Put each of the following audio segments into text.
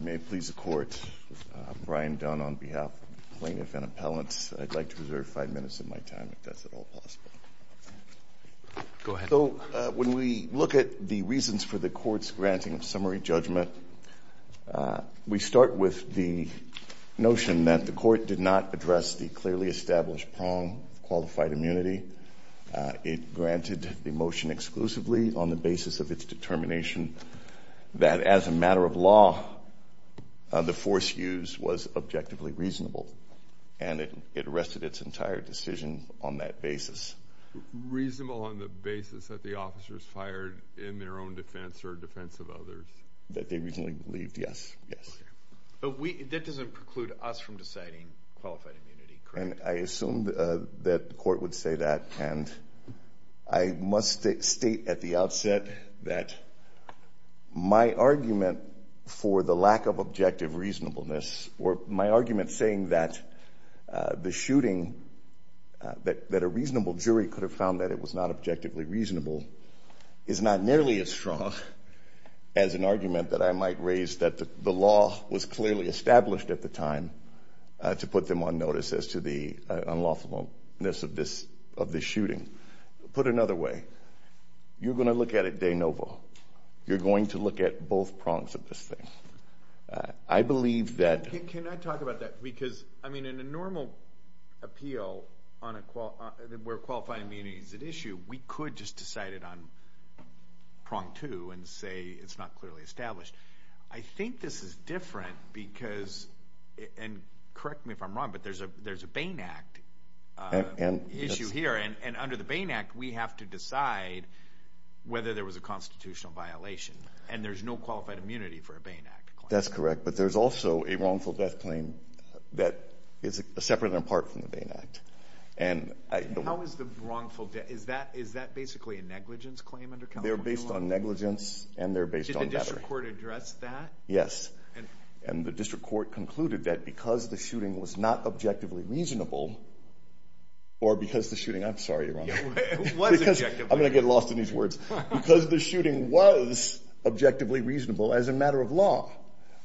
May it please the Court, I'm Brian Dunn on behalf of the Plaintiff and Appellants. I'd like to reserve five minutes of my time if that's at all possible. Go ahead. So when we look at the reasons for the Court's granting of summary judgment, we start with the notion that the Court did not address the clearly established prong of qualified immunity. It granted the motion exclusively on the basis of its determination that as a matter of law, the force used was objectively reasonable. And it arrested its entire decision on that basis. Reasonable on the basis that the officers fired in their own defense or defense of others? That they reasonably believed, yes. Yes. But that doesn't preclude us from deciding qualified immunity, correct? I assumed that the Court would say that. And I must state at the outset that my argument for the lack of objective reasonableness, or my argument saying that the shooting, that a reasonable jury could have found that it was not objectively reasonable, is not nearly as strong as an argument that I might raise that the law was clearly established at the time to put them on notice as to the unlawfulness of this shooting. Put another way, you're going to look at it de novo. You're going to look at both prongs of this thing. I believe that... Can I talk about that? Because, I mean, in a normal appeal where qualified immunity is an issue, we could just decide it on prong two and say it's not clearly established. I think this is different because, and correct me if I'm wrong, but there's a Bain Act issue here. And under the Bain Act, we have to decide whether there was a constitutional violation. And there's no qualified immunity for a Bain Act claim. That's correct. But there's also a wrongful death claim that is separate and apart from the Bain Act. How is the wrongful death... Is that basically a negligence claim under California law? They're based on negligence and they're based on battery. Did the district court address that? Yes. And the district court concluded that because the shooting was not objectively reasonable, or because the shooting... I'm sorry, Your Honor. It was objectively reasonable. I'm going to get lost in these words. Because the shooting was objectively reasonable as a matter of law,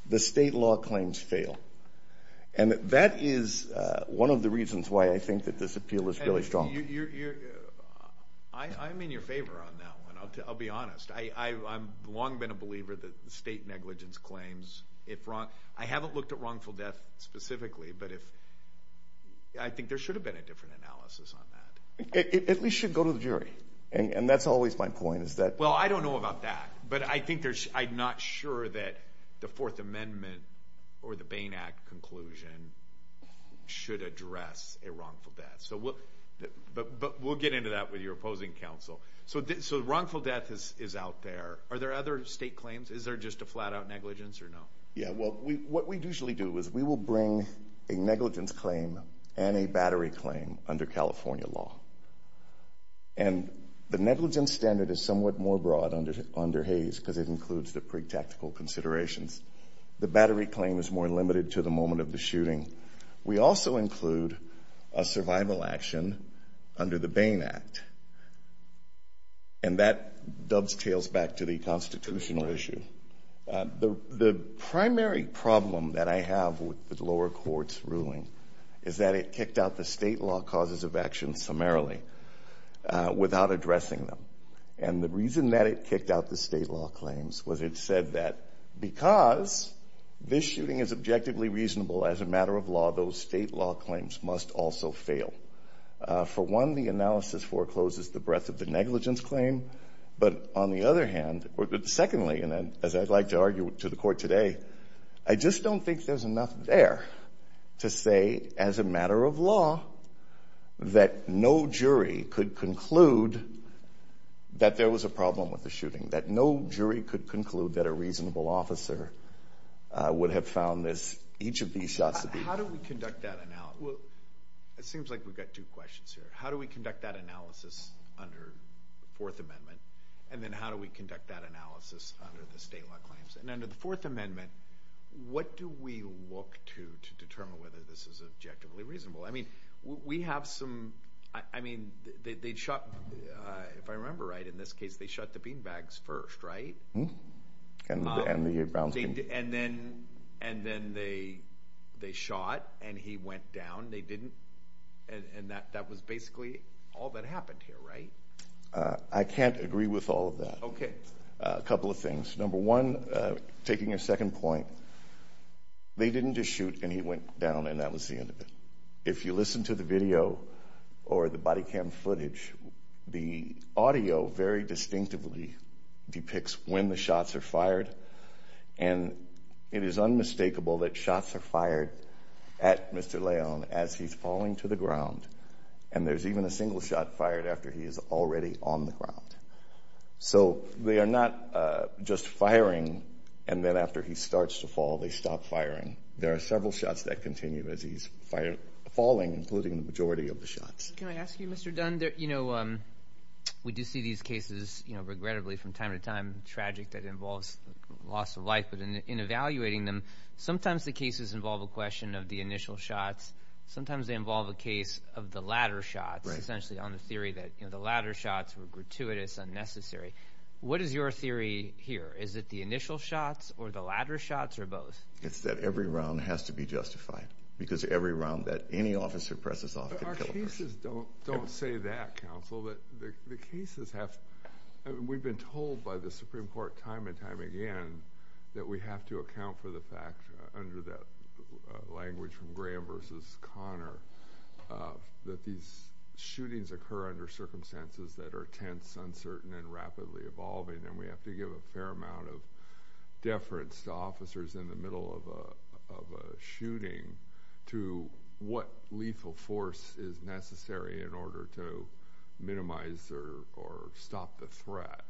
the state law claims fail. And that is one of the reasons why I think that this appeal is really strong. I'm in your favor on that one. I'll be honest. I've long been a believer that state negligence claims, if wrong... I haven't looked at wrongful death specifically, but I think there should have been a different analysis on that. It should go to the jury. And that's always my point, is that... Well, I don't know about that, but I think there's... I'm not sure that the Fourth Amendment or the Bain Act conclusion should address a wrongful death. But we'll get into that with your opposing counsel. So wrongful death is out there. Are there other state claims? Is there just a flat-out negligence or no? Yeah. Well, what we usually do is we will bring a negligence claim and a battery claim under California law. And the negligence standard is somewhat more broad under Hays because it includes the pre-tactical considerations. The battery claim is more limited to the moment of the shooting. We also include a survival action under the Bain Act. And that dovetails back to the constitutional issue. The primary problem that I have with the lower court's ruling is that it kicked out the state law causes of action summarily without addressing them. And the reason that it kicked out the state law claims was it said that because this shooting is objectively reasonable as a matter of law, those state law claims must also fail. For one, the analysis forecloses the breadth of the negligence claim. But on the other hand, secondly, and as I'd like to argue to the court today, I just don't think there's enough there to say as a matter of law that no jury could conclude that there was a problem with the shooting, that no jury could conclude that a reasonable officer would have found this, each of these shots to be. How do we conduct that analysis? It seems like we've got two questions here. How do we conduct that analysis under the Fourth Amendment? And then how do we conduct that analysis under the state law claims? And under the Fourth Amendment, what do we look to to determine whether this is objectively reasonable? I mean, we have some, I mean, they shot, if I remember right, in this case, they shot the beanbags first, right? And then they shot, and he went down, they didn't, and that was basically all that happened here, right? I can't agree with all of that. Okay. A couple of things. Number one, taking a second point, they didn't just shoot and he went down and that was the end of it. If you listen to the video or the body cam footage, the audio very distinctively depicts when the shots are fired, and it is unmistakable that shots are fired at Mr. Leon as he's falling to the ground, and there's even a single shot fired after he is already on the ground. So they are not just firing, and then after he starts to fall, they stop firing. There are several shots that continue as he's falling, including the majority of the shots. Can I ask you, Mr. Dunn, you know, we do see these cases, you know, regrettably from time to time, tragic that involves loss of life, but in evaluating them, sometimes the cases involve a question of the initial shots. Sometimes they involve a case of the latter shots, essentially on the theory that, you know, the latter shots were gratuitous, unnecessary. What is your theory here? Is it the initial shots or the latter shots or both? It's that every round has to be justified, because every round that any officer presses off... Our cases don't say that, Counsel, but the cases have... We've been told by the Supreme Court time and time again that we have to account for the fact, under that language from Graham versus Conner, that these shootings occur under circumstances that are tense, uncertain, and rapidly evolving, and we have to give a fair amount of deference to officers in the middle of a shooting to what lethal force is necessary in order to minimize or stop the threat.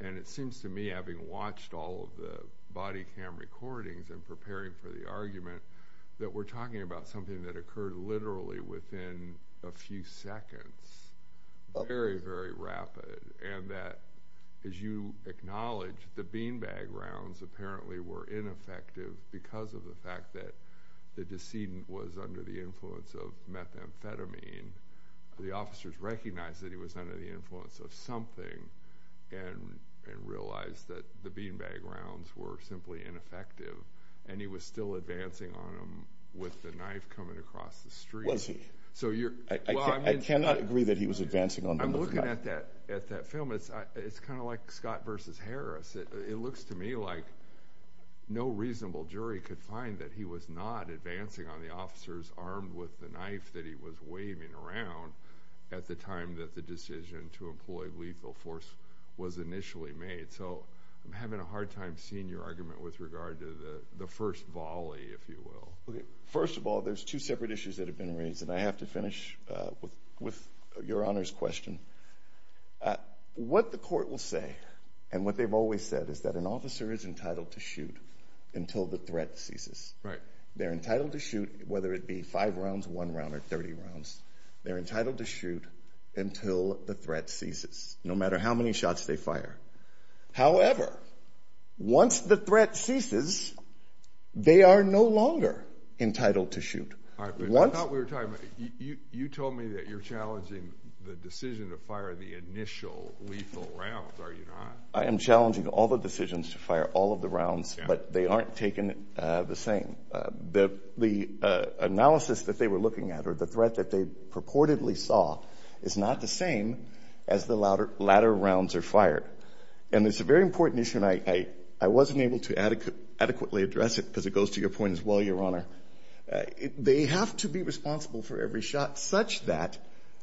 And it seems to me, having watched all of the body cam recordings and preparing for the argument, that we're talking about something that occurred literally within a few seconds, very, very rapid, and that, as you acknowledge, the beanbag rounds apparently were ineffective because of the fact that the decedent was under the influence of methamphetamine. The officers recognized that he was under the influence of something and realized that the beanbag rounds were simply ineffective, and he was still advancing on them with the knife coming across the street. Was he? I cannot agree that he was advancing on them with a knife. I'm looking at that film. It's kind of like Scott versus Harris. It looks to me like no reasonable jury could find that he was not advancing on the officers armed with the knife that he was waving around at the time that the decision to employ lethal force was initially made. So I'm having a hard time seeing your argument with regard to the first volley, if you will. First of all, there's two separate issues that have been raised, and I have to finish with Your Honor's question. What the court will say, and what they've always said, is that an officer is entitled to shoot until the threat ceases. They're entitled to shoot, whether it be five rounds, one round, or 30 rounds. They're entitled to shoot until the threat ceases, no matter how many shots they fire. However, once the threat ceases, they are no longer entitled to shoot. I thought we were talking about, you told me that you're challenging the decision to fire the initial lethal rounds, are you not? I am challenging all the decisions to fire all of the rounds, but they aren't taken the same. The analysis that they were looking at, or the threat that they purportedly saw, is not the same as the latter rounds are fired. It's a very important issue, and I wasn't able to adequately address it, because it goes to your point as well, Your Honor. They have to be responsible for every shot, such that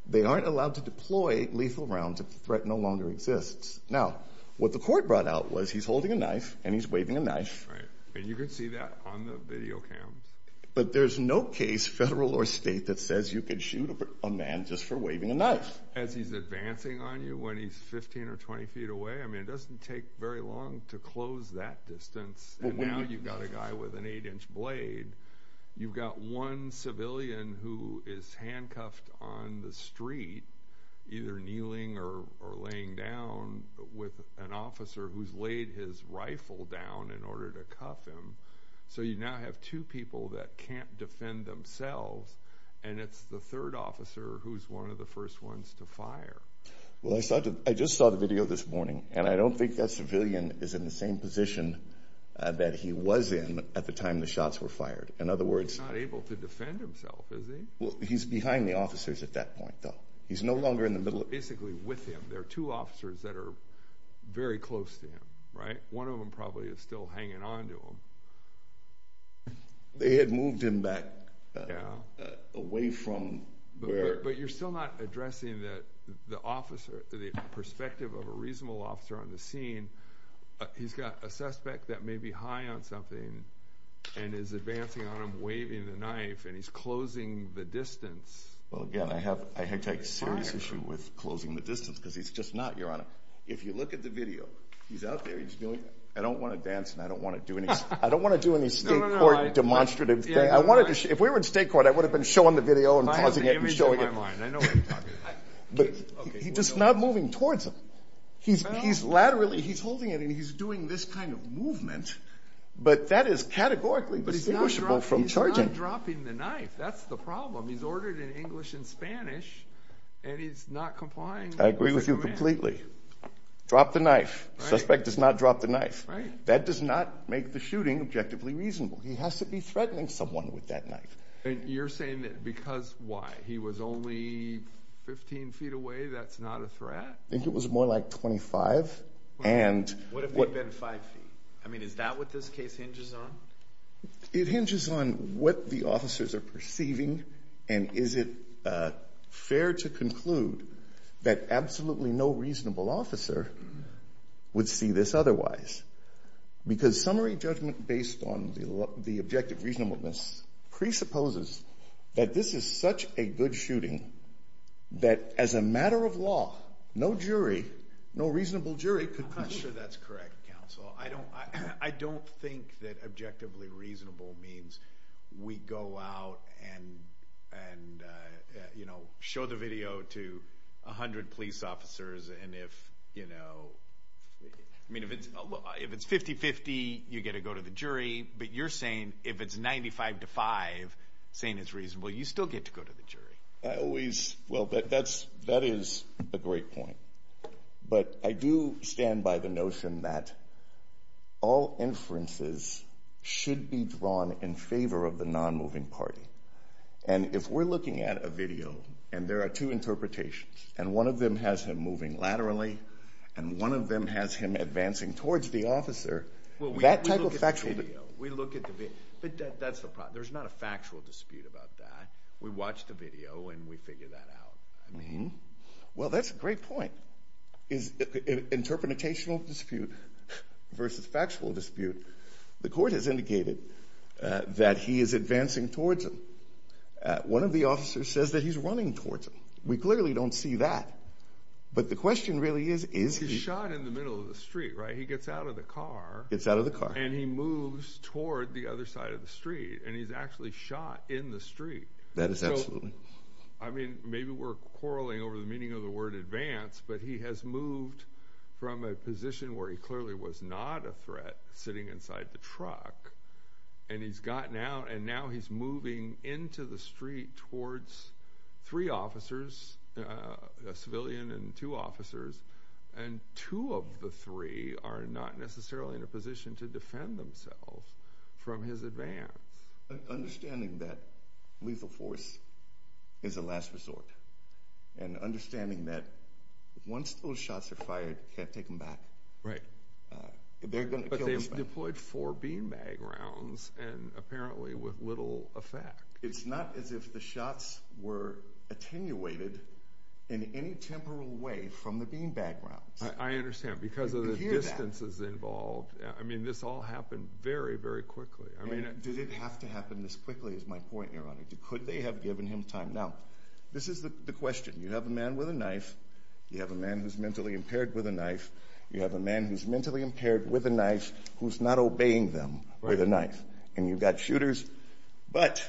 they aren't allowed to deploy lethal rounds if the threat no longer exists. Now, what the court brought out was, he's holding a knife, and he's waving a knife. You can see that on the video cams. But there's no case, federal or state, that says you can shoot a man just for waving a knife. As he's advancing on you, when he's 15 or 20 feet away, it doesn't take very long to close that distance, and now you've got a guy with an eight-inch blade. You've got one civilian who is handcuffed on the street, either kneeling or laying down, with an officer who's laid his rifle down in order to cuff him. So you now have two people that can't defend themselves, and it's the third officer who's one of the first ones to fire. Well, I just saw the video this morning, and I don't think that civilian is in the same position that he was in at the time the shots were fired. In other words... He's not able to defend himself, is he? Well, he's behind the officers at that point, though. He's no longer in the middle of... Basically with him. There are two officers that are very close to him, right? One of them probably is still hanging on to him. They had moved him back away from where... But you're still not addressing that the officer, the perspective of a reasonable officer on the scene, he's got a suspect that may be high on something and is advancing on him, waving the knife, and he's closing the distance. Well, again, I take serious issue with closing the distance, because he's just not, Your Honor. If you look at the video, he's out there, he's doing... I don't want to dance, and I don't want to do any state court demonstrative thing. If we were in state court, I would have been showing the video and pausing it and showing it. I have the image in my mind. I know what you're talking about. He's just not moving towards him. He's laterally... He's holding it, and he's doing this kind of movement, but that is categorically distinguishable from charging. He's not dropping the knife. That's the problem. He's ordered in English and Spanish, and he's not complying with the command. I agree with you completely. Drop the knife. The suspect does not drop the knife. Right. That does not make the shooting objectively reasonable. He has to be threatening someone with that knife. You're saying that because why? He was only 15 feet away. That's not a threat? I think it was more like 25, and... What if he'd been 5 feet? Is that what this case hinges on? It hinges on what the officers are perceiving, and is it fair to conclude that absolutely no reasonable officer would see this otherwise? Because summary judgment based on the objective reasonableness presupposes that this is such a good shooting that as a matter of law, no jury, no reasonable jury could... I'm not sure that's correct, counsel. I don't think that objectively reasonable means we go out and show the video to 100 police officers, and if... If it's 50-50, you get to go to the jury, but you're saying if it's 95-5, saying it's reasonable, you still get to go to the jury. I always... Well, that is a great point, but I do stand by the notion that all inferences should be drawn in favor of the non-moving party, and if we're looking at a video, and there are two interpretations, and one of them has him moving laterally, and one of them has him advancing towards the officer, that type of video, we look at the video. But that's the problem. There's not a factual dispute about that. We watch the video, and we figure that out. I mean... Well, that's a great point, is an interpretational dispute versus factual dispute. The court has indicated that he is advancing towards him. One of the officers says that he's running towards him. We clearly don't see that, but the question really is, is he... He's shot in the middle of the street, right? He gets out of the car. Gets out of the car. And he moves toward the other side of the street, and he's actually shot in the street. That is absolutely. I mean, maybe we're quarreling over the meaning of the word advance, but he has moved from a position where he clearly was not a threat, sitting inside the truck, and he's gotten out, and now he's moving into the street towards three officers, a civilian and two officers, and two of the three are not necessarily in a position to defend themselves from his advance. Understanding that lethal force is a last resort, and understanding that once those shots are fired, you can't take them back. Right. They're going to kill themselves. But they've deployed four beanbag rounds, and apparently with little effect. It's not as if the shots were attenuated in any temporal way from the beanbag rounds. I understand. Because of the distances involved. I mean, this all happened very, very quickly. I mean... Did it have to happen this quickly is my point, Your Honor. Could they have given him time? Now, this is the question. You have a man with a knife. You have a man who's mentally impaired with a knife. You have a man who's mentally impaired with a knife who's not obeying them with a knife. And you've got shooters. But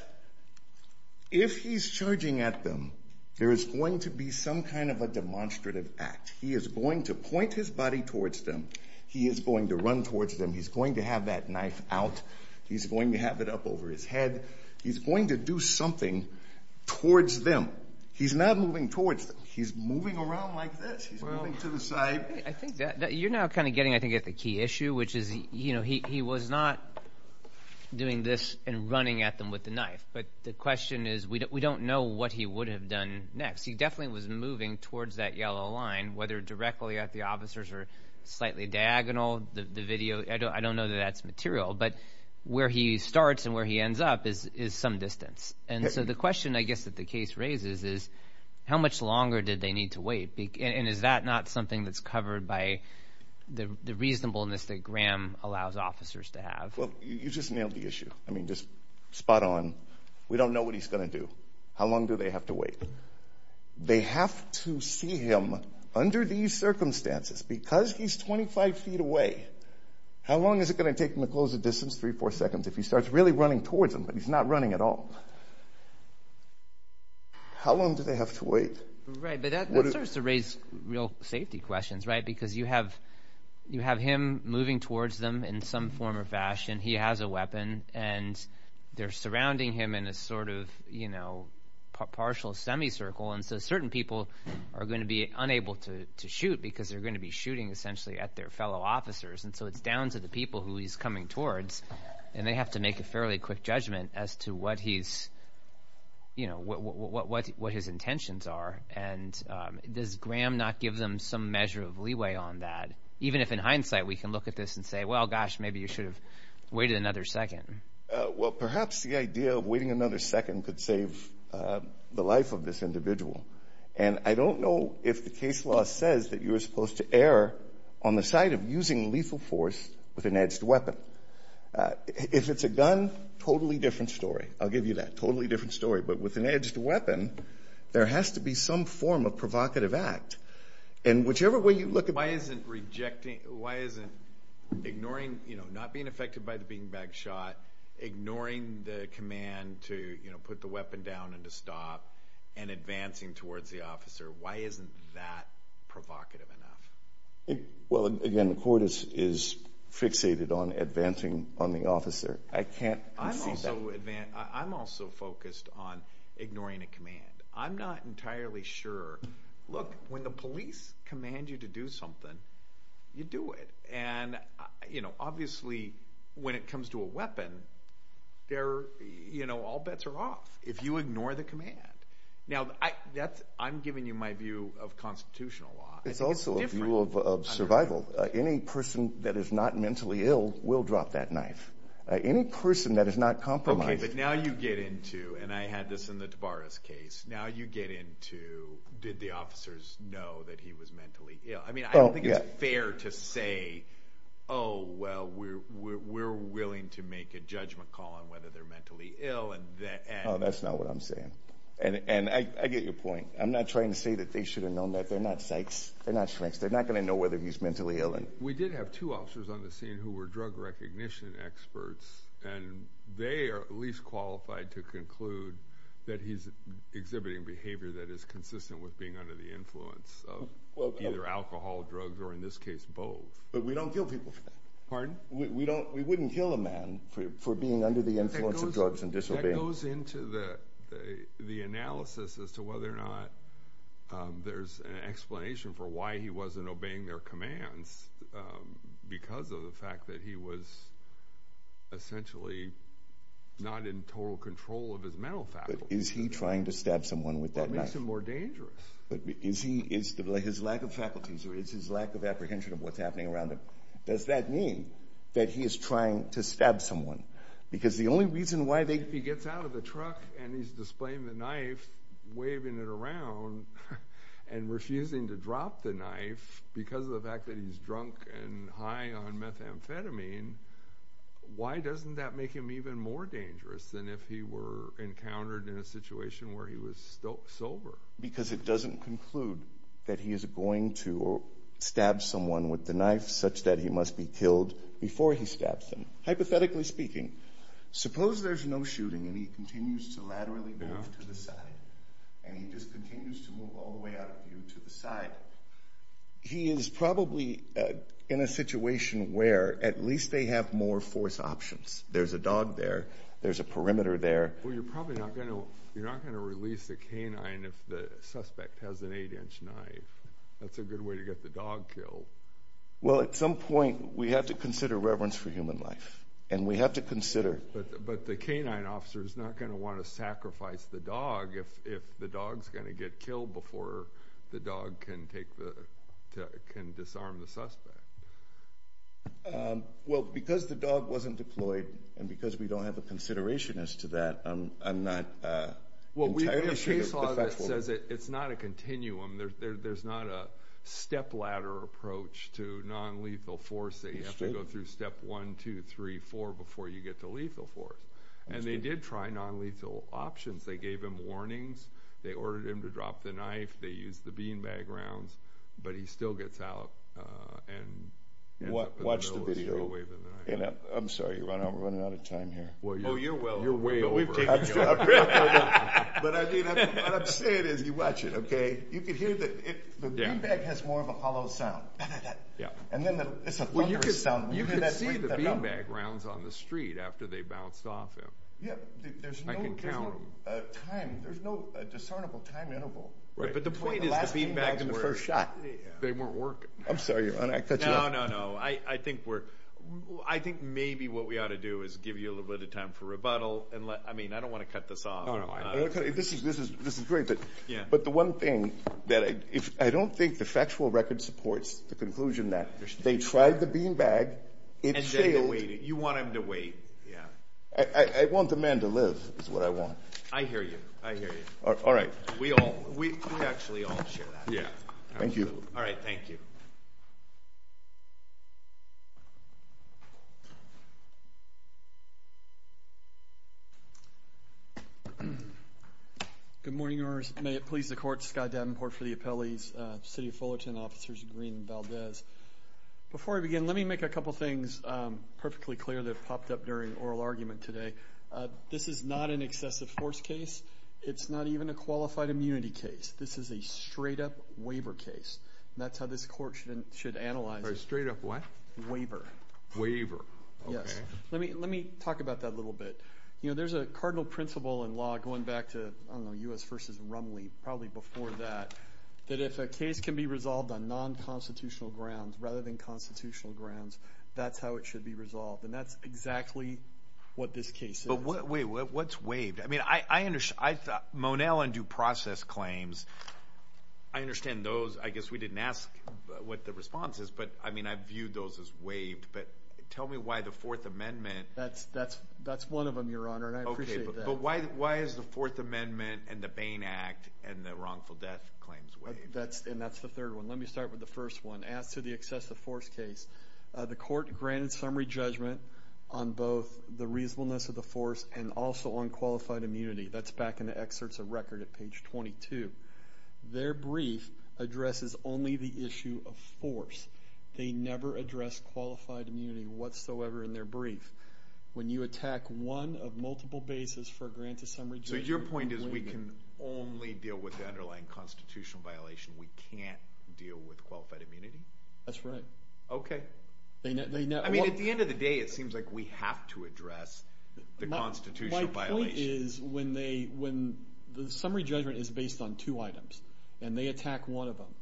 if he's charging at them, there is going to be some kind of a demonstrative act. He is going to point his body towards them. He is going to run towards them. He's going to have that knife out. He's going to have it up over his head. He's going to do something towards them. He's not moving towards them. He's moving around like this. He's moving to the side. You're now kind of getting, I think, at the key issue, which is he was not doing this and running at them with the knife. But the question is, we don't know what he would have done next. He definitely was moving towards that yellow line, whether directly at the officers or slightly diagonal. The video, I don't know that that's material. But where he starts and where he ends up is some distance. And so the question, I guess, that the case raises is, how much longer did they need to wait? And is that not something that's covered by the reasonableness that Graham allows officers to have? Well, you just nailed the issue. I mean, just spot on. We don't know what he's going to do. How long do they have to wait? They have to see him under these circumstances. Because he's 25 feet away, how long is it going to take him to close the distance? Three, four seconds. If he starts really running towards them, but he's not running at all. How long do they have to wait? Right. But that starts to raise real safety questions, right? Because you have him moving towards them in some form or fashion. He has a weapon. And they're surrounding him in a sort of partial semicircle. And so certain people are going to be unable to shoot because they're going to be shooting, essentially, at their fellow officers. And so it's down to the people who he's coming towards. And they have to make a fairly quick judgment as to what his intentions are. And does Graham not give them some measure of leeway on that? Even if in hindsight we can look at this and say, well, gosh, maybe you should have waited another second. Well, perhaps the idea of waiting another second could save the life of this individual. And I don't know if the case law says that you're supposed to err on the side of using a lethal force with an edged weapon. If it's a gun, totally different story. I'll give you that. Totally different story. But with an edged weapon, there has to be some form of provocative act. And whichever way you look at it. Why isn't rejecting, why isn't ignoring, not being affected by the beanbag shot, ignoring the command to put the weapon down and to stop, and advancing towards the officer, why isn't that provocative enough? Well, again, the court is fixated on advancing on the officer. I can't conceive that. I'm also focused on ignoring a command. I'm not entirely sure. Look, when the police command you to do something, you do it. And obviously, when it comes to a weapon, all bets are off if you ignore the command. Now, I'm giving you my view of constitutional law. It's also a view of survival. Any person that is not mentally ill will drop that knife. Any person that is not compromised... Okay, but now you get into, and I had this in the Tabaras case, now you get into, did the officers know that he was mentally ill? I mean, I don't think it's fair to say, oh, well, we're willing to make a judgment call on whether they're mentally ill and that... Oh, that's not what I'm saying. And I get your point. I'm not trying to say that they should have known that. They're not psychs. They're not shrinks. They're not going to know whether he's mentally ill. We did have two officers on the scene who were drug recognition experts, and they are at least qualified to conclude that he's exhibiting behavior that is consistent with being under the influence of either alcohol, drugs, or in this case, both. But we don't kill people for that. Pardon? We wouldn't kill a man for being under the influence of drugs and disobeying. That goes into the analysis as to whether or not there's an explanation for why he wasn't obeying their commands because of the fact that he was essentially not in total control of his mental faculties. But is he trying to stab someone with that knife? That makes it more dangerous. But is he, is his lack of faculties, or is his lack of apprehension of what's happening around him, does that mean that he is trying to stab someone? Because the only reason why If he gets out of the truck and he's displaying the knife, waving it around, and refusing to drop the knife because of the fact that he's drunk and high on methamphetamine, why doesn't that make him even more dangerous than if he were encountered in a situation where he was sober? Because it doesn't conclude that he is going to stab someone with the knife such that he must be killed before he stabs them. Hypothetically speaking, suppose there's no shooting and he continues to laterally move to the side, and he just continues to move all the way out of view to the side. He is probably in a situation where at least they have more force options. There's a dog there. There's a perimeter there. Well, you're probably not going to release the canine if the suspect has an eight-inch knife. That's a good way to get the dog killed. Well, at some point, we have to consider reverence for human life, and we have to consider But the canine officer is not going to want to sacrifice the dog if the dog is going to get killed before the dog can disarm the suspect. Well, because the dog wasn't deployed, and because we don't have a consideration as to that, I'm not entirely sure. It's not a continuum. There's not a stepladder approach to nonlethal force that you have to go through step one, two, three, four before you get to lethal force. And they did try nonlethal options. They gave him warnings. They ordered him to drop the knife. They used the beanbag rounds. But he still gets out. Watch the video. I'm sorry. We're running out of time here. Oh, you're well over. You're way over. But what I'm saying is, you watch it, okay? You can hear that the beanbag has more of a hollow sound. And then it's a thunderous sound. You can see the beanbag rounds on the street after they bounced off him. I can count them. There's no time. There's no discernible time interval. But the point is, the beanbags weren't working. I'm sorry, your Honor. I cut you off. No, no, no. I think maybe what we ought to do is give you a little bit of time for rebuttal. I mean, I don't want to cut this off. This is great. But the one thing that I don't think the factual record supports, the conclusion that they tried the beanbag, it failed. You want him to wait. I want the man to live is what I want. I hear you. I hear you. All right. We actually all share that. Thank you. All right. Thank you. Good morning, Your Honors. May it please the Court, Scott Davenport for the appellees, City of Fullerton Officers Green and Valdez. Before I begin, let me make a couple things perfectly clear that popped up during oral argument today. This is not an excessive force case. It's not even a qualified immunity case. This is a straight-up waiver case. That's how this Court should analyze it. A straight-up what? Waiver. Yes. Let me talk about that a little bit. You know, there's a cardinal principle in law going back to, I don't know, U.S. v. Rumley, probably before that, that if a case can be resolved on non-constitutional grounds rather than constitutional grounds, that's how it should be resolved. And that's exactly what this case is. Wait. What's waived? I mean, I thought Monell and Due Process claims, I understand those. I guess we didn't ask what the response is. But, I mean, I viewed those as waived. But tell me why the Fourth Amendment. That's one of them, Your Honor, and I appreciate that. But why is the Fourth Amendment and the Bain Act and the wrongful death claims waived? And that's the third one. Let me start with the first one. As to the excessive force case, the Court granted summary judgment on both the reasonableness of the force and also on qualified immunity. That's back in the excerpts of record at page 22. Their brief addresses only the issue of force. They never address qualified immunity whatsoever in their brief. When you attack one of multiple bases for a grant of summary judgment. So your point is we can only deal with the underlying constitutional violation. We can't deal with qualified immunity? That's right. Okay. I mean, at the end of the day, it seems like we have to address the constitutional violation. My point is when the summary judgment is based on two items and they attack one of them,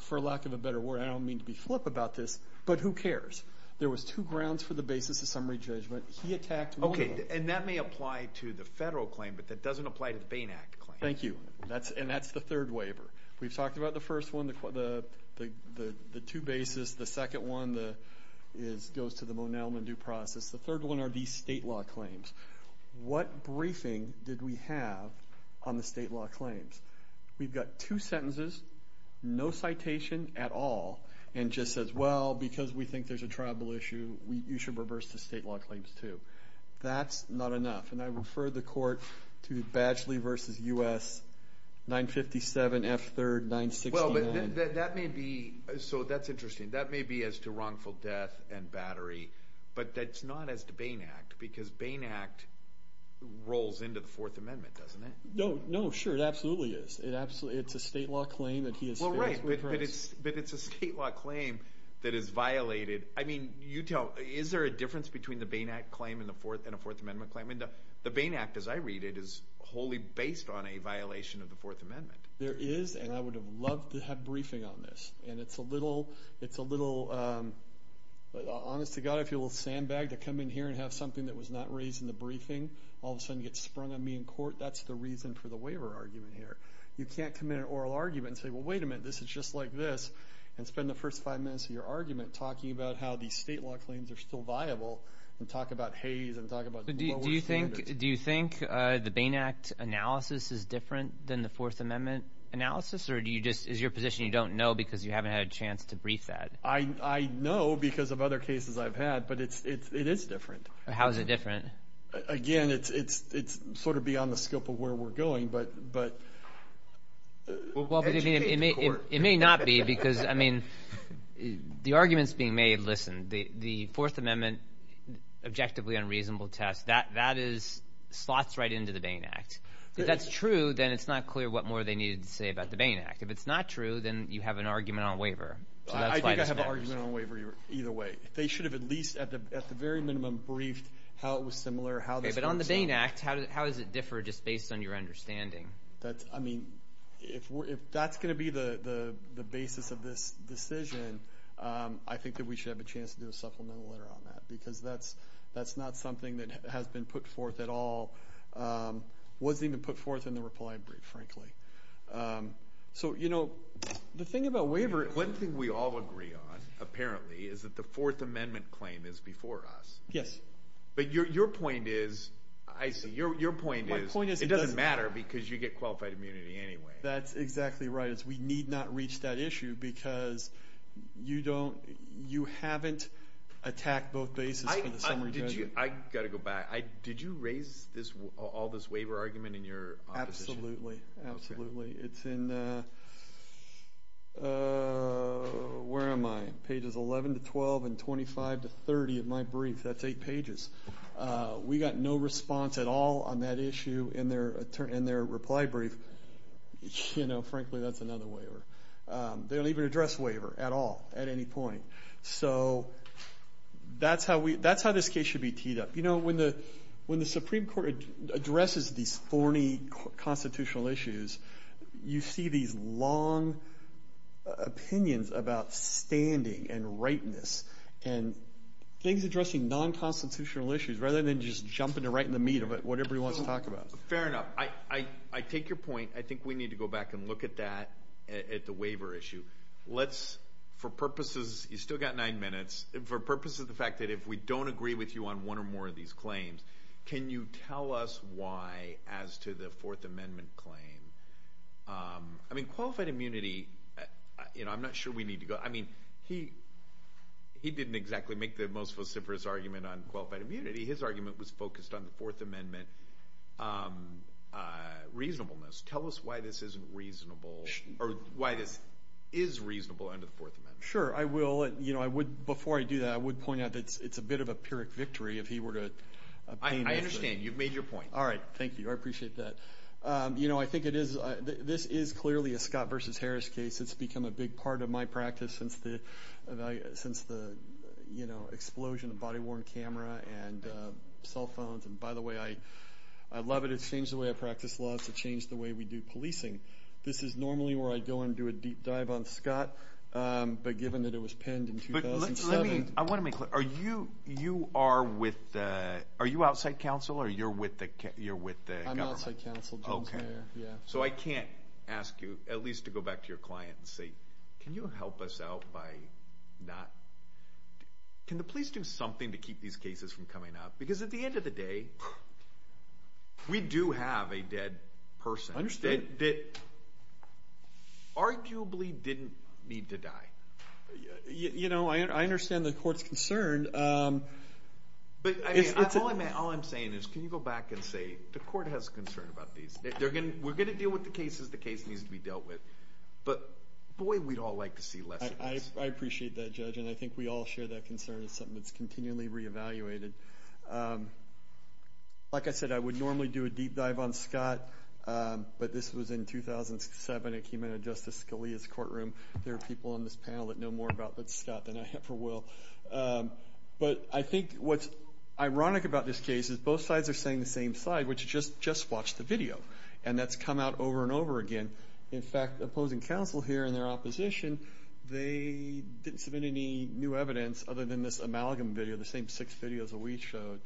for lack of a better word, I don't mean to be flip about this, but who cares? There was two grounds for the basis of summary judgment. He attacked one of them. Okay. And that may apply to the federal claim, but that doesn't apply to the Bain Act claim. Thank you. And that's the third waiver. We've talked about the first one, the two bases. The second one goes to the Monellman due process. The third one are these state law claims. What briefing did we have on the state law claims? We've got two sentences, no citation at all, and just says, well, because we think there's a tribal issue, you should reverse the state law claims too. That's not enough. And I refer the court to Badgley v. U.S. 957F3-969. Well, that may be as to wrongful death and battery, but that's not as to Bain Act because Bain Act rolls into the Fourth Amendment, doesn't it? No, sure. It absolutely is. It's a state law claim that he has fixed. Well, right, but it's a state law claim that is violated. I mean, is there a difference between the Bain Act claim and a Fourth Amendment claim? The Bain Act, as I read it, is wholly based on a violation of the Fourth Amendment. There is, and I would have loved to have briefing on this. And it's a little, honest to God, I feel a little sandbagged to come in here and have something that was not raised in the briefing all of a sudden get sprung on me in court. That's the reason for the waiver argument here. You can't come in an oral argument and say, well, wait a minute, this is just like this, and spend the first five minutes of your argument talking about how these state law claims are still viable and talk about Hays and talk about what works and what doesn't. Do you think the Bain Act analysis is different than the Fourth Amendment analysis, or is your position you don't know because you haven't had a chance to brief that? I know because of other cases I've had, but it is different. How is it different? Again, it's sort of beyond the scope of where we're going, but educate the court. It may not be because, I mean, the arguments being made, listen, the Fourth Amendment objectively unreasonable test, that slots right into the Bain Act. If that's true, then it's not clear what more they needed to say about the Bain Act. If it's not true, then you have an argument on waiver. I think I have an argument on waiver either way. They should have at least at the very minimum briefed how it was similar, how this works. But on the Bain Act, how does it differ just based on your understanding? I mean, if that's going to be the basis of this decision, I think that we should have a chance to do a supplemental letter on that because that's not something that has been put forth at all. It wasn't even put forth in the reply brief, frankly. So, you know, the thing about waiver, one thing we all agree on, apparently, is that the Fourth Amendment claim is before us. Yes. But your point is, I see, your point is it doesn't matter because you get qualified immunity anyway. That's exactly right. We need not reach that issue because you haven't attacked both bases for the summary judgment. I've got to go back. Did you raise all this waiver argument in your opposition? Absolutely, absolutely. It's in, where am I, pages 11 to 12 and 25 to 30 of my brief. That's eight pages. We got no response at all on that issue in their reply brief. You know, frankly, that's another waiver. They don't even address waiver at all at any point. So that's how this case should be teed up. You know, when the Supreme Court addresses these thorny constitutional issues, you see these long opinions about standing and rightness and things addressing non-constitutional issues rather than just jumping to right in the meat of it, whatever he wants to talk about. Fair enough. I take your point. I think we need to go back and look at that, at the waiver issue. Let's, for purposes, you've still got nine minutes. For purposes of the fact that if we don't agree with you on one or more of these claims, can you tell us why, as to the Fourth Amendment claim? I mean, qualified immunity, you know, I'm not sure we need to go. I mean, he didn't exactly make the most vociferous argument on qualified immunity. His argument was focused on the Fourth Amendment reasonableness. Tell us why this isn't reasonable or why this is reasonable under the Fourth Amendment. Sure. I will. You know, before I do that, I would point out that it's a bit of a Pyrrhic victory if he were to. I understand. You've made your point. All right. Thank you. I appreciate that. You know, I think it is. This is clearly a Scott versus Harris case. It's become a big part of my practice since the, you know, explosion of body-worn camera and cell phones. And, by the way, I love it. It's changed the way I practice laws. It's changed the way we do policing. This is normally where I go and do a deep dive on Scott. But given that it was penned in 2007. I want to make clear. Are you outside counsel or you're with the government? I'm outside counsel, Jim's mayor. So I can't ask you, at least to go back to your client and say, can you help us out by not. Can the police do something to keep these cases from coming up? Because at the end of the day, we do have a dead person. I understand. That arguably didn't need to die. You know, I understand the court's concern. But, I mean, all I'm saying is, can you go back and say, the court has concern about these. We're going to deal with the cases the case needs to be dealt with. But, boy, we'd all like to see less of these. I appreciate that, Judge. And I think we all share that concern. It's something that's continually reevaluated. Like I said, I would normally do a deep dive on Scott. But this was in 2007. It came out of Justice Scalia's courtroom. There are people on this panel that know more about Scott than I ever will. But I think what's ironic about this case is both sides are saying the same side, which is just watch the video. And that's come out over and over again. In fact, opposing counsel here in their opposition, they didn't submit any new evidence other than this amalgam video, the same six videos that we showed,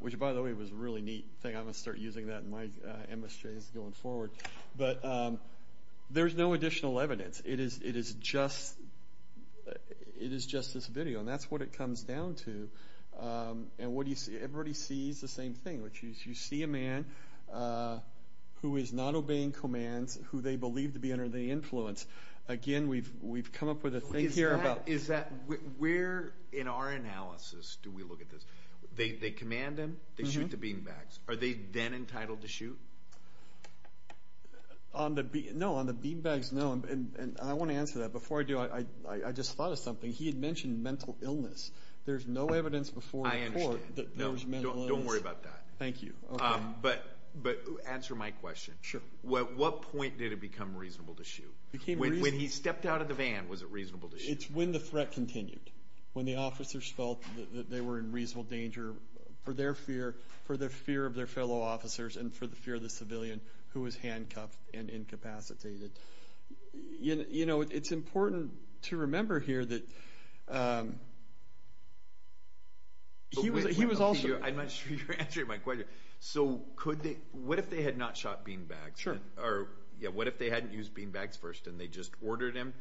which, by the way, was a really neat thing. I'm going to start using that in my MSJs going forward. But there's no additional evidence. It is just this video. And that's what it comes down to. And everybody sees the same thing, which is you see a man who is not obeying commands, who they believe to be under the influence. Again, we've come up with a thing here about. Where in our analysis do we look at this? They command him. They shoot the beanbags. Are they then entitled to shoot? No, on the beanbags, no. And I want to answer that. Before I do, I just thought of something. He had mentioned mental illness. There's no evidence before the court that there's mental illness. Don't worry about that. Thank you. But answer my question. Sure. At what point did it become reasonable to shoot? When he stepped out of the van, was it reasonable to shoot? It's when the threat continued, when the officers felt that they were in reasonable danger for their fear, for the fear of their fellow officers, and for the fear of the civilian who was handcuffed and incapacitated. You know, it's important to remember here that he was also. I'm not sure you're answering my question. So what if they had not shot beanbags? Sure. Or what if they hadn't used beanbags first and they just ordered him?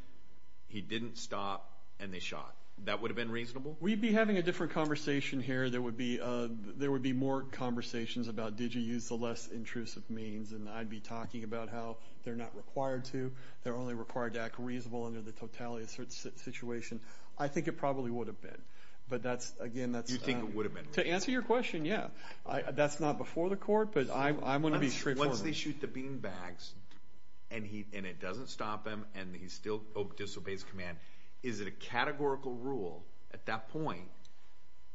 He didn't stop and they shot. That would have been reasonable? We'd be having a different conversation here. There would be more conversations about did you use the less intrusive means, and I'd be talking about how they're not required to. They're only required to act reasonable under the totality of the situation. I think it probably would have been. But that's, again, that's... You think it would have been reasonable? To answer your question, yeah. That's not before the court, but I'm going to be straightforward. Once they shoot the beanbags and it doesn't stop him and he still disobeys command, is it a categorical rule at that point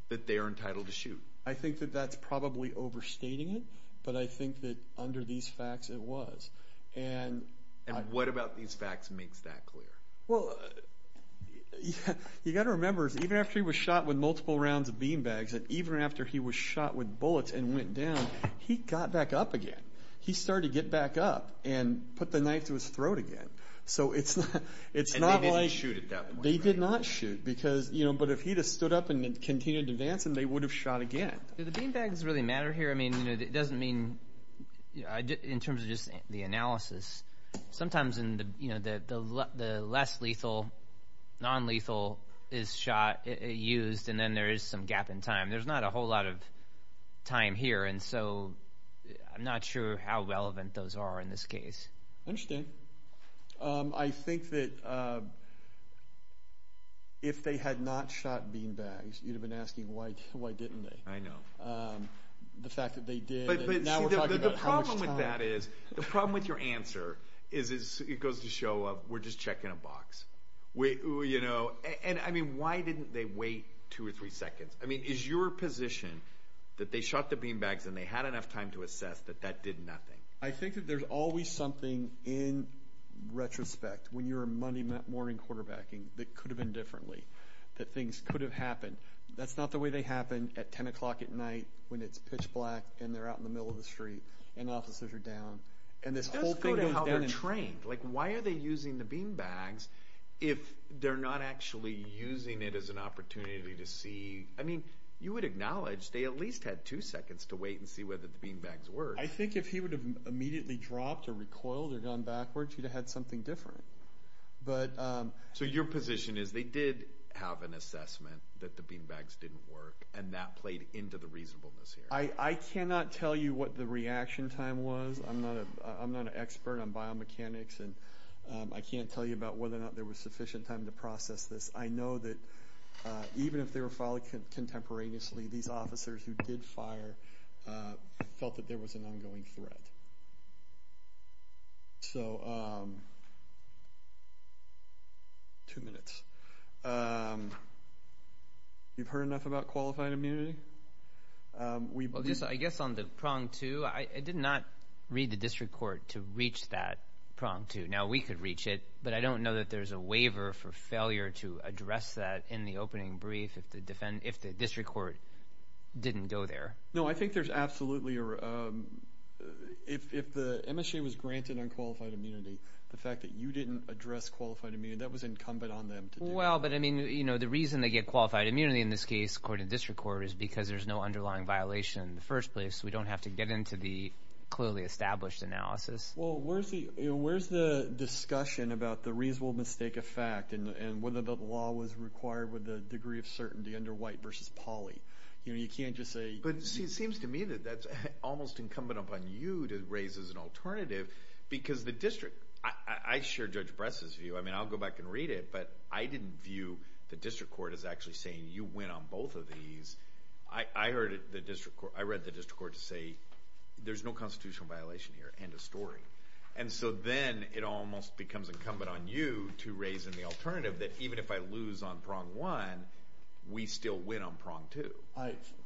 that they are entitled to shoot? I think that that's probably overstating it, but I think that under these facts it was. And what about these facts makes that clear? Well, you've got to remember, even after he was shot with multiple rounds of beanbags and even after he was shot with bullets and went down, he got back up again. He started to get back up and put the knife to his throat again. So it's not like... And they didn't shoot at that point, right? They did not shoot. But if he had stood up and continued to advance, they would have shot again. Do the beanbags really matter here? I mean, it doesn't mean in terms of just the analysis. Sometimes the less lethal, nonlethal is shot, used, and then there is some gap in time. There's not a whole lot of time here, and so I'm not sure how relevant those are in this case. I understand. I think that if they had not shot beanbags, you'd have been asking why didn't they. I know. The fact that they did... But the problem with that is, the problem with your answer is it goes to show we're just checking a box. And, I mean, why didn't they wait two or three seconds? I mean, is your position that they shot the beanbags and they had enough time to assess that that did nothing? I think that there's always something in retrospect, when you're a Monday morning quarterbacking, that could have been differently, that things could have happened. That's not the way they happen at 10 o'clock at night when it's pitch black and they're out in the middle of the street and officers are down. It does go to how they're trained. Like, why are they using the beanbags if they're not actually using it as an opportunity to see... I mean, you would acknowledge they at least had two seconds to wait and see whether the beanbags worked. I think if he would have immediately dropped or recoiled or gone backwards, he'd have had something different. So your position is they did have an assessment that the beanbags didn't work and that played into the reasonableness here. I cannot tell you what the reaction time was. I'm not an expert on biomechanics and I can't tell you about whether or not there was sufficient time to process this. I know that even if they were followed contemporaneously, these officers who did fire felt that there was an ongoing threat. Two minutes. You've heard enough about qualified immunity? I guess on the prong two, I did not read the district court to reach that prong two. Now, we could reach it, but I don't know that there's a waiver for failure to address that in the opening brief if the district court didn't go there. No, I think there's absolutely a... If the MSHA was granted unqualified immunity, the fact that you didn't address qualified immunity, that was incumbent on them to do that. Well, but the reason they get qualified immunity in this case, according to district court, is because there's no underlying violation in the first place. We don't have to get into the clearly established analysis. Well, where's the discussion about the reasonable mistake of fact and whether the law was required with a degree of certainty under White v. Pauley? You know, you can't just say... But it seems to me that that's almost incumbent upon you to raise as an alternative, because the district... I share Judge Bress's view. I mean, I'll go back and read it, but I didn't view the district court as actually saying, you win on both of these. I read the district court to say, there's no constitutional violation here, end of story. And so then it almost becomes incumbent on you to raise in the alternative that even if I lose on prong one, we still win on prong two.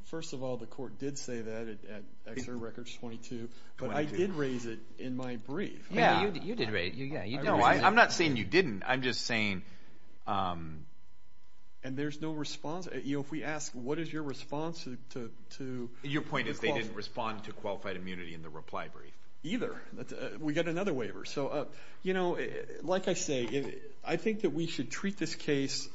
First of all, the court did say that at Exeter Records 22, but I did raise it in my brief. Yeah, you did raise it. No, I'm not saying you didn't. I'm just saying... And there's no response? You know, if we ask, what is your response to... Your point is they didn't respond to qualified immunity in the reply brief. Either. We got another waiver. So, you know, like I say, I think that we should treat this case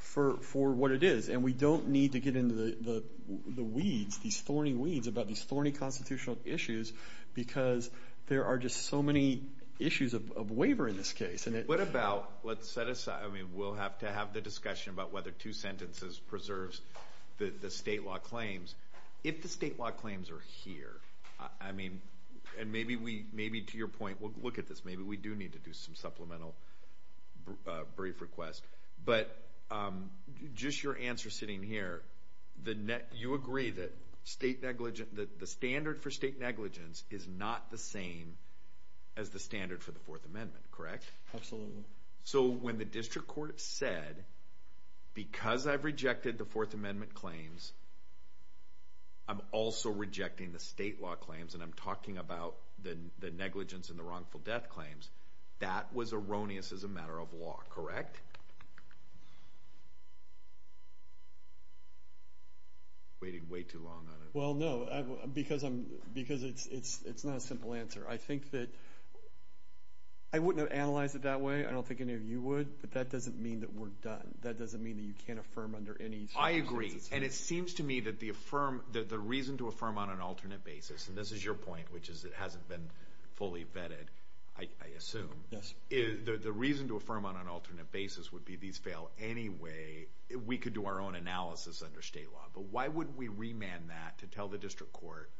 for what it is, and we don't need to get into the weeds, these thorny weeds about these thorny constitutional issues, because there are just so many issues of waiver in this case. What about... Let's set aside... I mean, we'll have to have the discussion about whether two sentences preserves the state law claims. If the state law claims are here, I mean... And maybe to your point, we'll look at this. Maybe we do need to do some supplemental brief requests. But just your answer sitting here, you agree that the standard for state negligence is not the same as the standard for the Fourth Amendment, correct? Absolutely. So when the district court said, because I've rejected the Fourth Amendment claims, I'm also rejecting the state law claims, and I'm talking about the negligence and the wrongful death claims, that was erroneous as a matter of law, correct? Waiting way too long on it. Well, no, because it's not a simple answer. I think that... I wouldn't have analyzed it that way. I don't think any of you would. But that doesn't mean that we're done. That doesn't mean that you can't affirm under any circumstances. I agree, and it seems to me that the reason to affirm on an alternate basis, and this is your point, which is it hasn't been fully vetted, I assume, the reason to affirm on an alternate basis would be these fail anyway. We could do our own analysis under state law. But why would we remand that to tell the district court,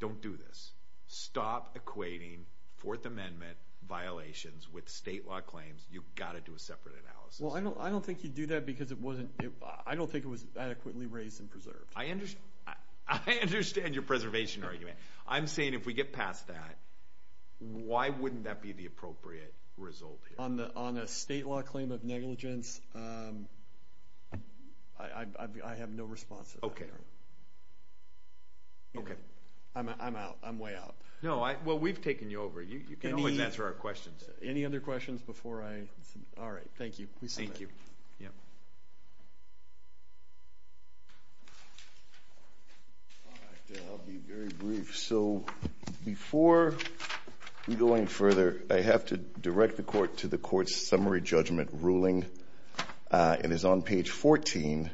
don't do this. Stop equating Fourth Amendment violations with state law claims. You've got to do a separate analysis. Well, I don't think you'd do that because it wasn't... I don't think it was adequately raised and preserved. I understand your preservation argument. I'm saying if we get past that, why wouldn't that be the appropriate result here? On a state law claim of negligence, I have no response to that. I'm out. I'm way out. No, well, we've taken you over. You can always answer our questions. Any other questions before I... All right, thank you. Thank you. All right, I'll be very brief. So before we go any further, I have to direct the court to the court's summary judgment ruling. It is on page 14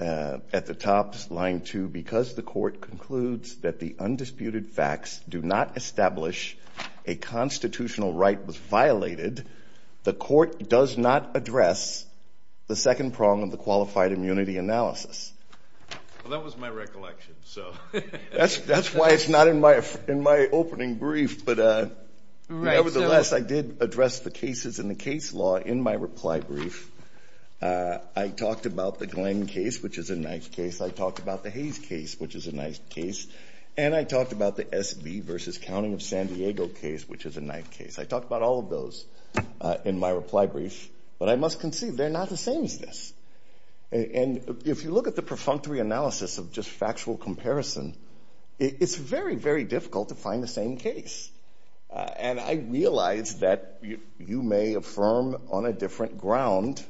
at the top, line 2, because the court concludes that the undisputed facts do not establish a constitutional right was violated. The court does not address the second prong of the qualified immunity analysis. Well, that was my recollection, so... That's why it's not in my opening brief, but nevertheless, I did address the cases in the case law in my reply brief. I talked about the Glenn case, which is a nice case. I talked about the Hayes case, which is a nice case. And I talked about the S.B. v. Counting of San Diego case, which is a nice case. I talked about all of those in my reply brief, but I must concede they're not the same as this. And if you look at the perfunctory analysis of just factual comparison, it's very, very difficult to find the same case. And I realize that you may affirm on a different ground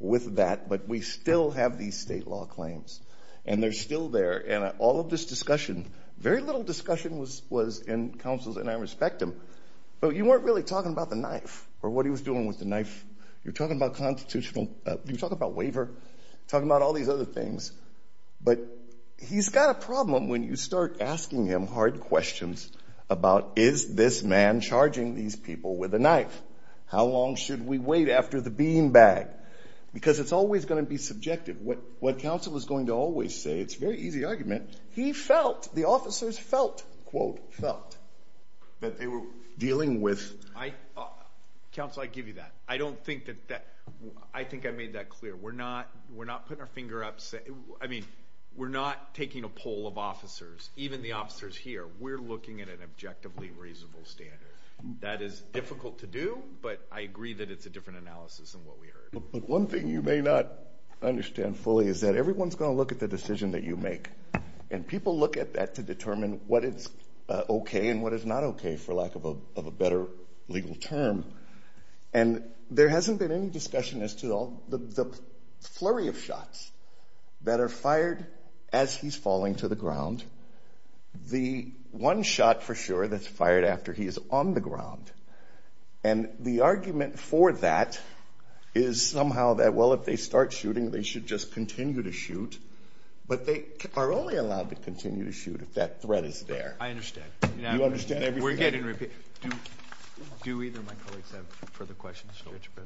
with that, but we still have these state law claims, and they're still there. And all of this discussion, very little discussion was in counsel's, and I respect him, but you weren't really talking about the knife or what he was doing with the knife. You were talking about constitutional... You were talking about waiver, talking about all these other things. But he's got a problem when you start asking him hard questions about, is this man charging these people with a knife? How long should we wait after the beanbag? Because it's always going to be subjective. What counsel is going to always say, it's a very easy argument, he felt, the officers felt, quote, felt, that they were dealing with... Counsel, I give you that. I don't think that that... I think I made that clear. We're not putting our finger up... I mean, we're not taking a poll of officers, even the officers here. We're looking at an objectively reasonable standard. That is difficult to do, but I agree that it's a different analysis than what we heard. But one thing you may not understand fully is that everyone's going to look at the decision that you make, and people look at that to determine what is okay and what is not okay, for lack of a better legal term. And there hasn't been any discussion as to the flurry of shots that are fired as he's falling to the ground. The one shot, for sure, that's fired after he is on the ground. And the argument for that is somehow that, well, if they start shooting, they should just continue to shoot, but they are only allowed to continue to shoot if that threat is there. I understand. You understand? We're getting... Do either of my colleagues have further questions?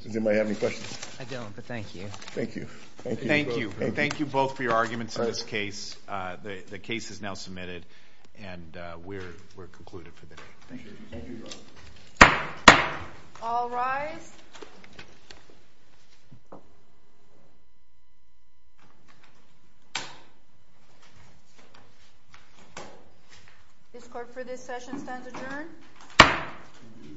Does anybody have any questions? I don't, but thank you. Thank you. Thank you. Thank you both for your arguments in this case. The case is now submitted, and we're concluded for the day. Thank you. Thank you. All rise. This court, for this session, stands adjourned.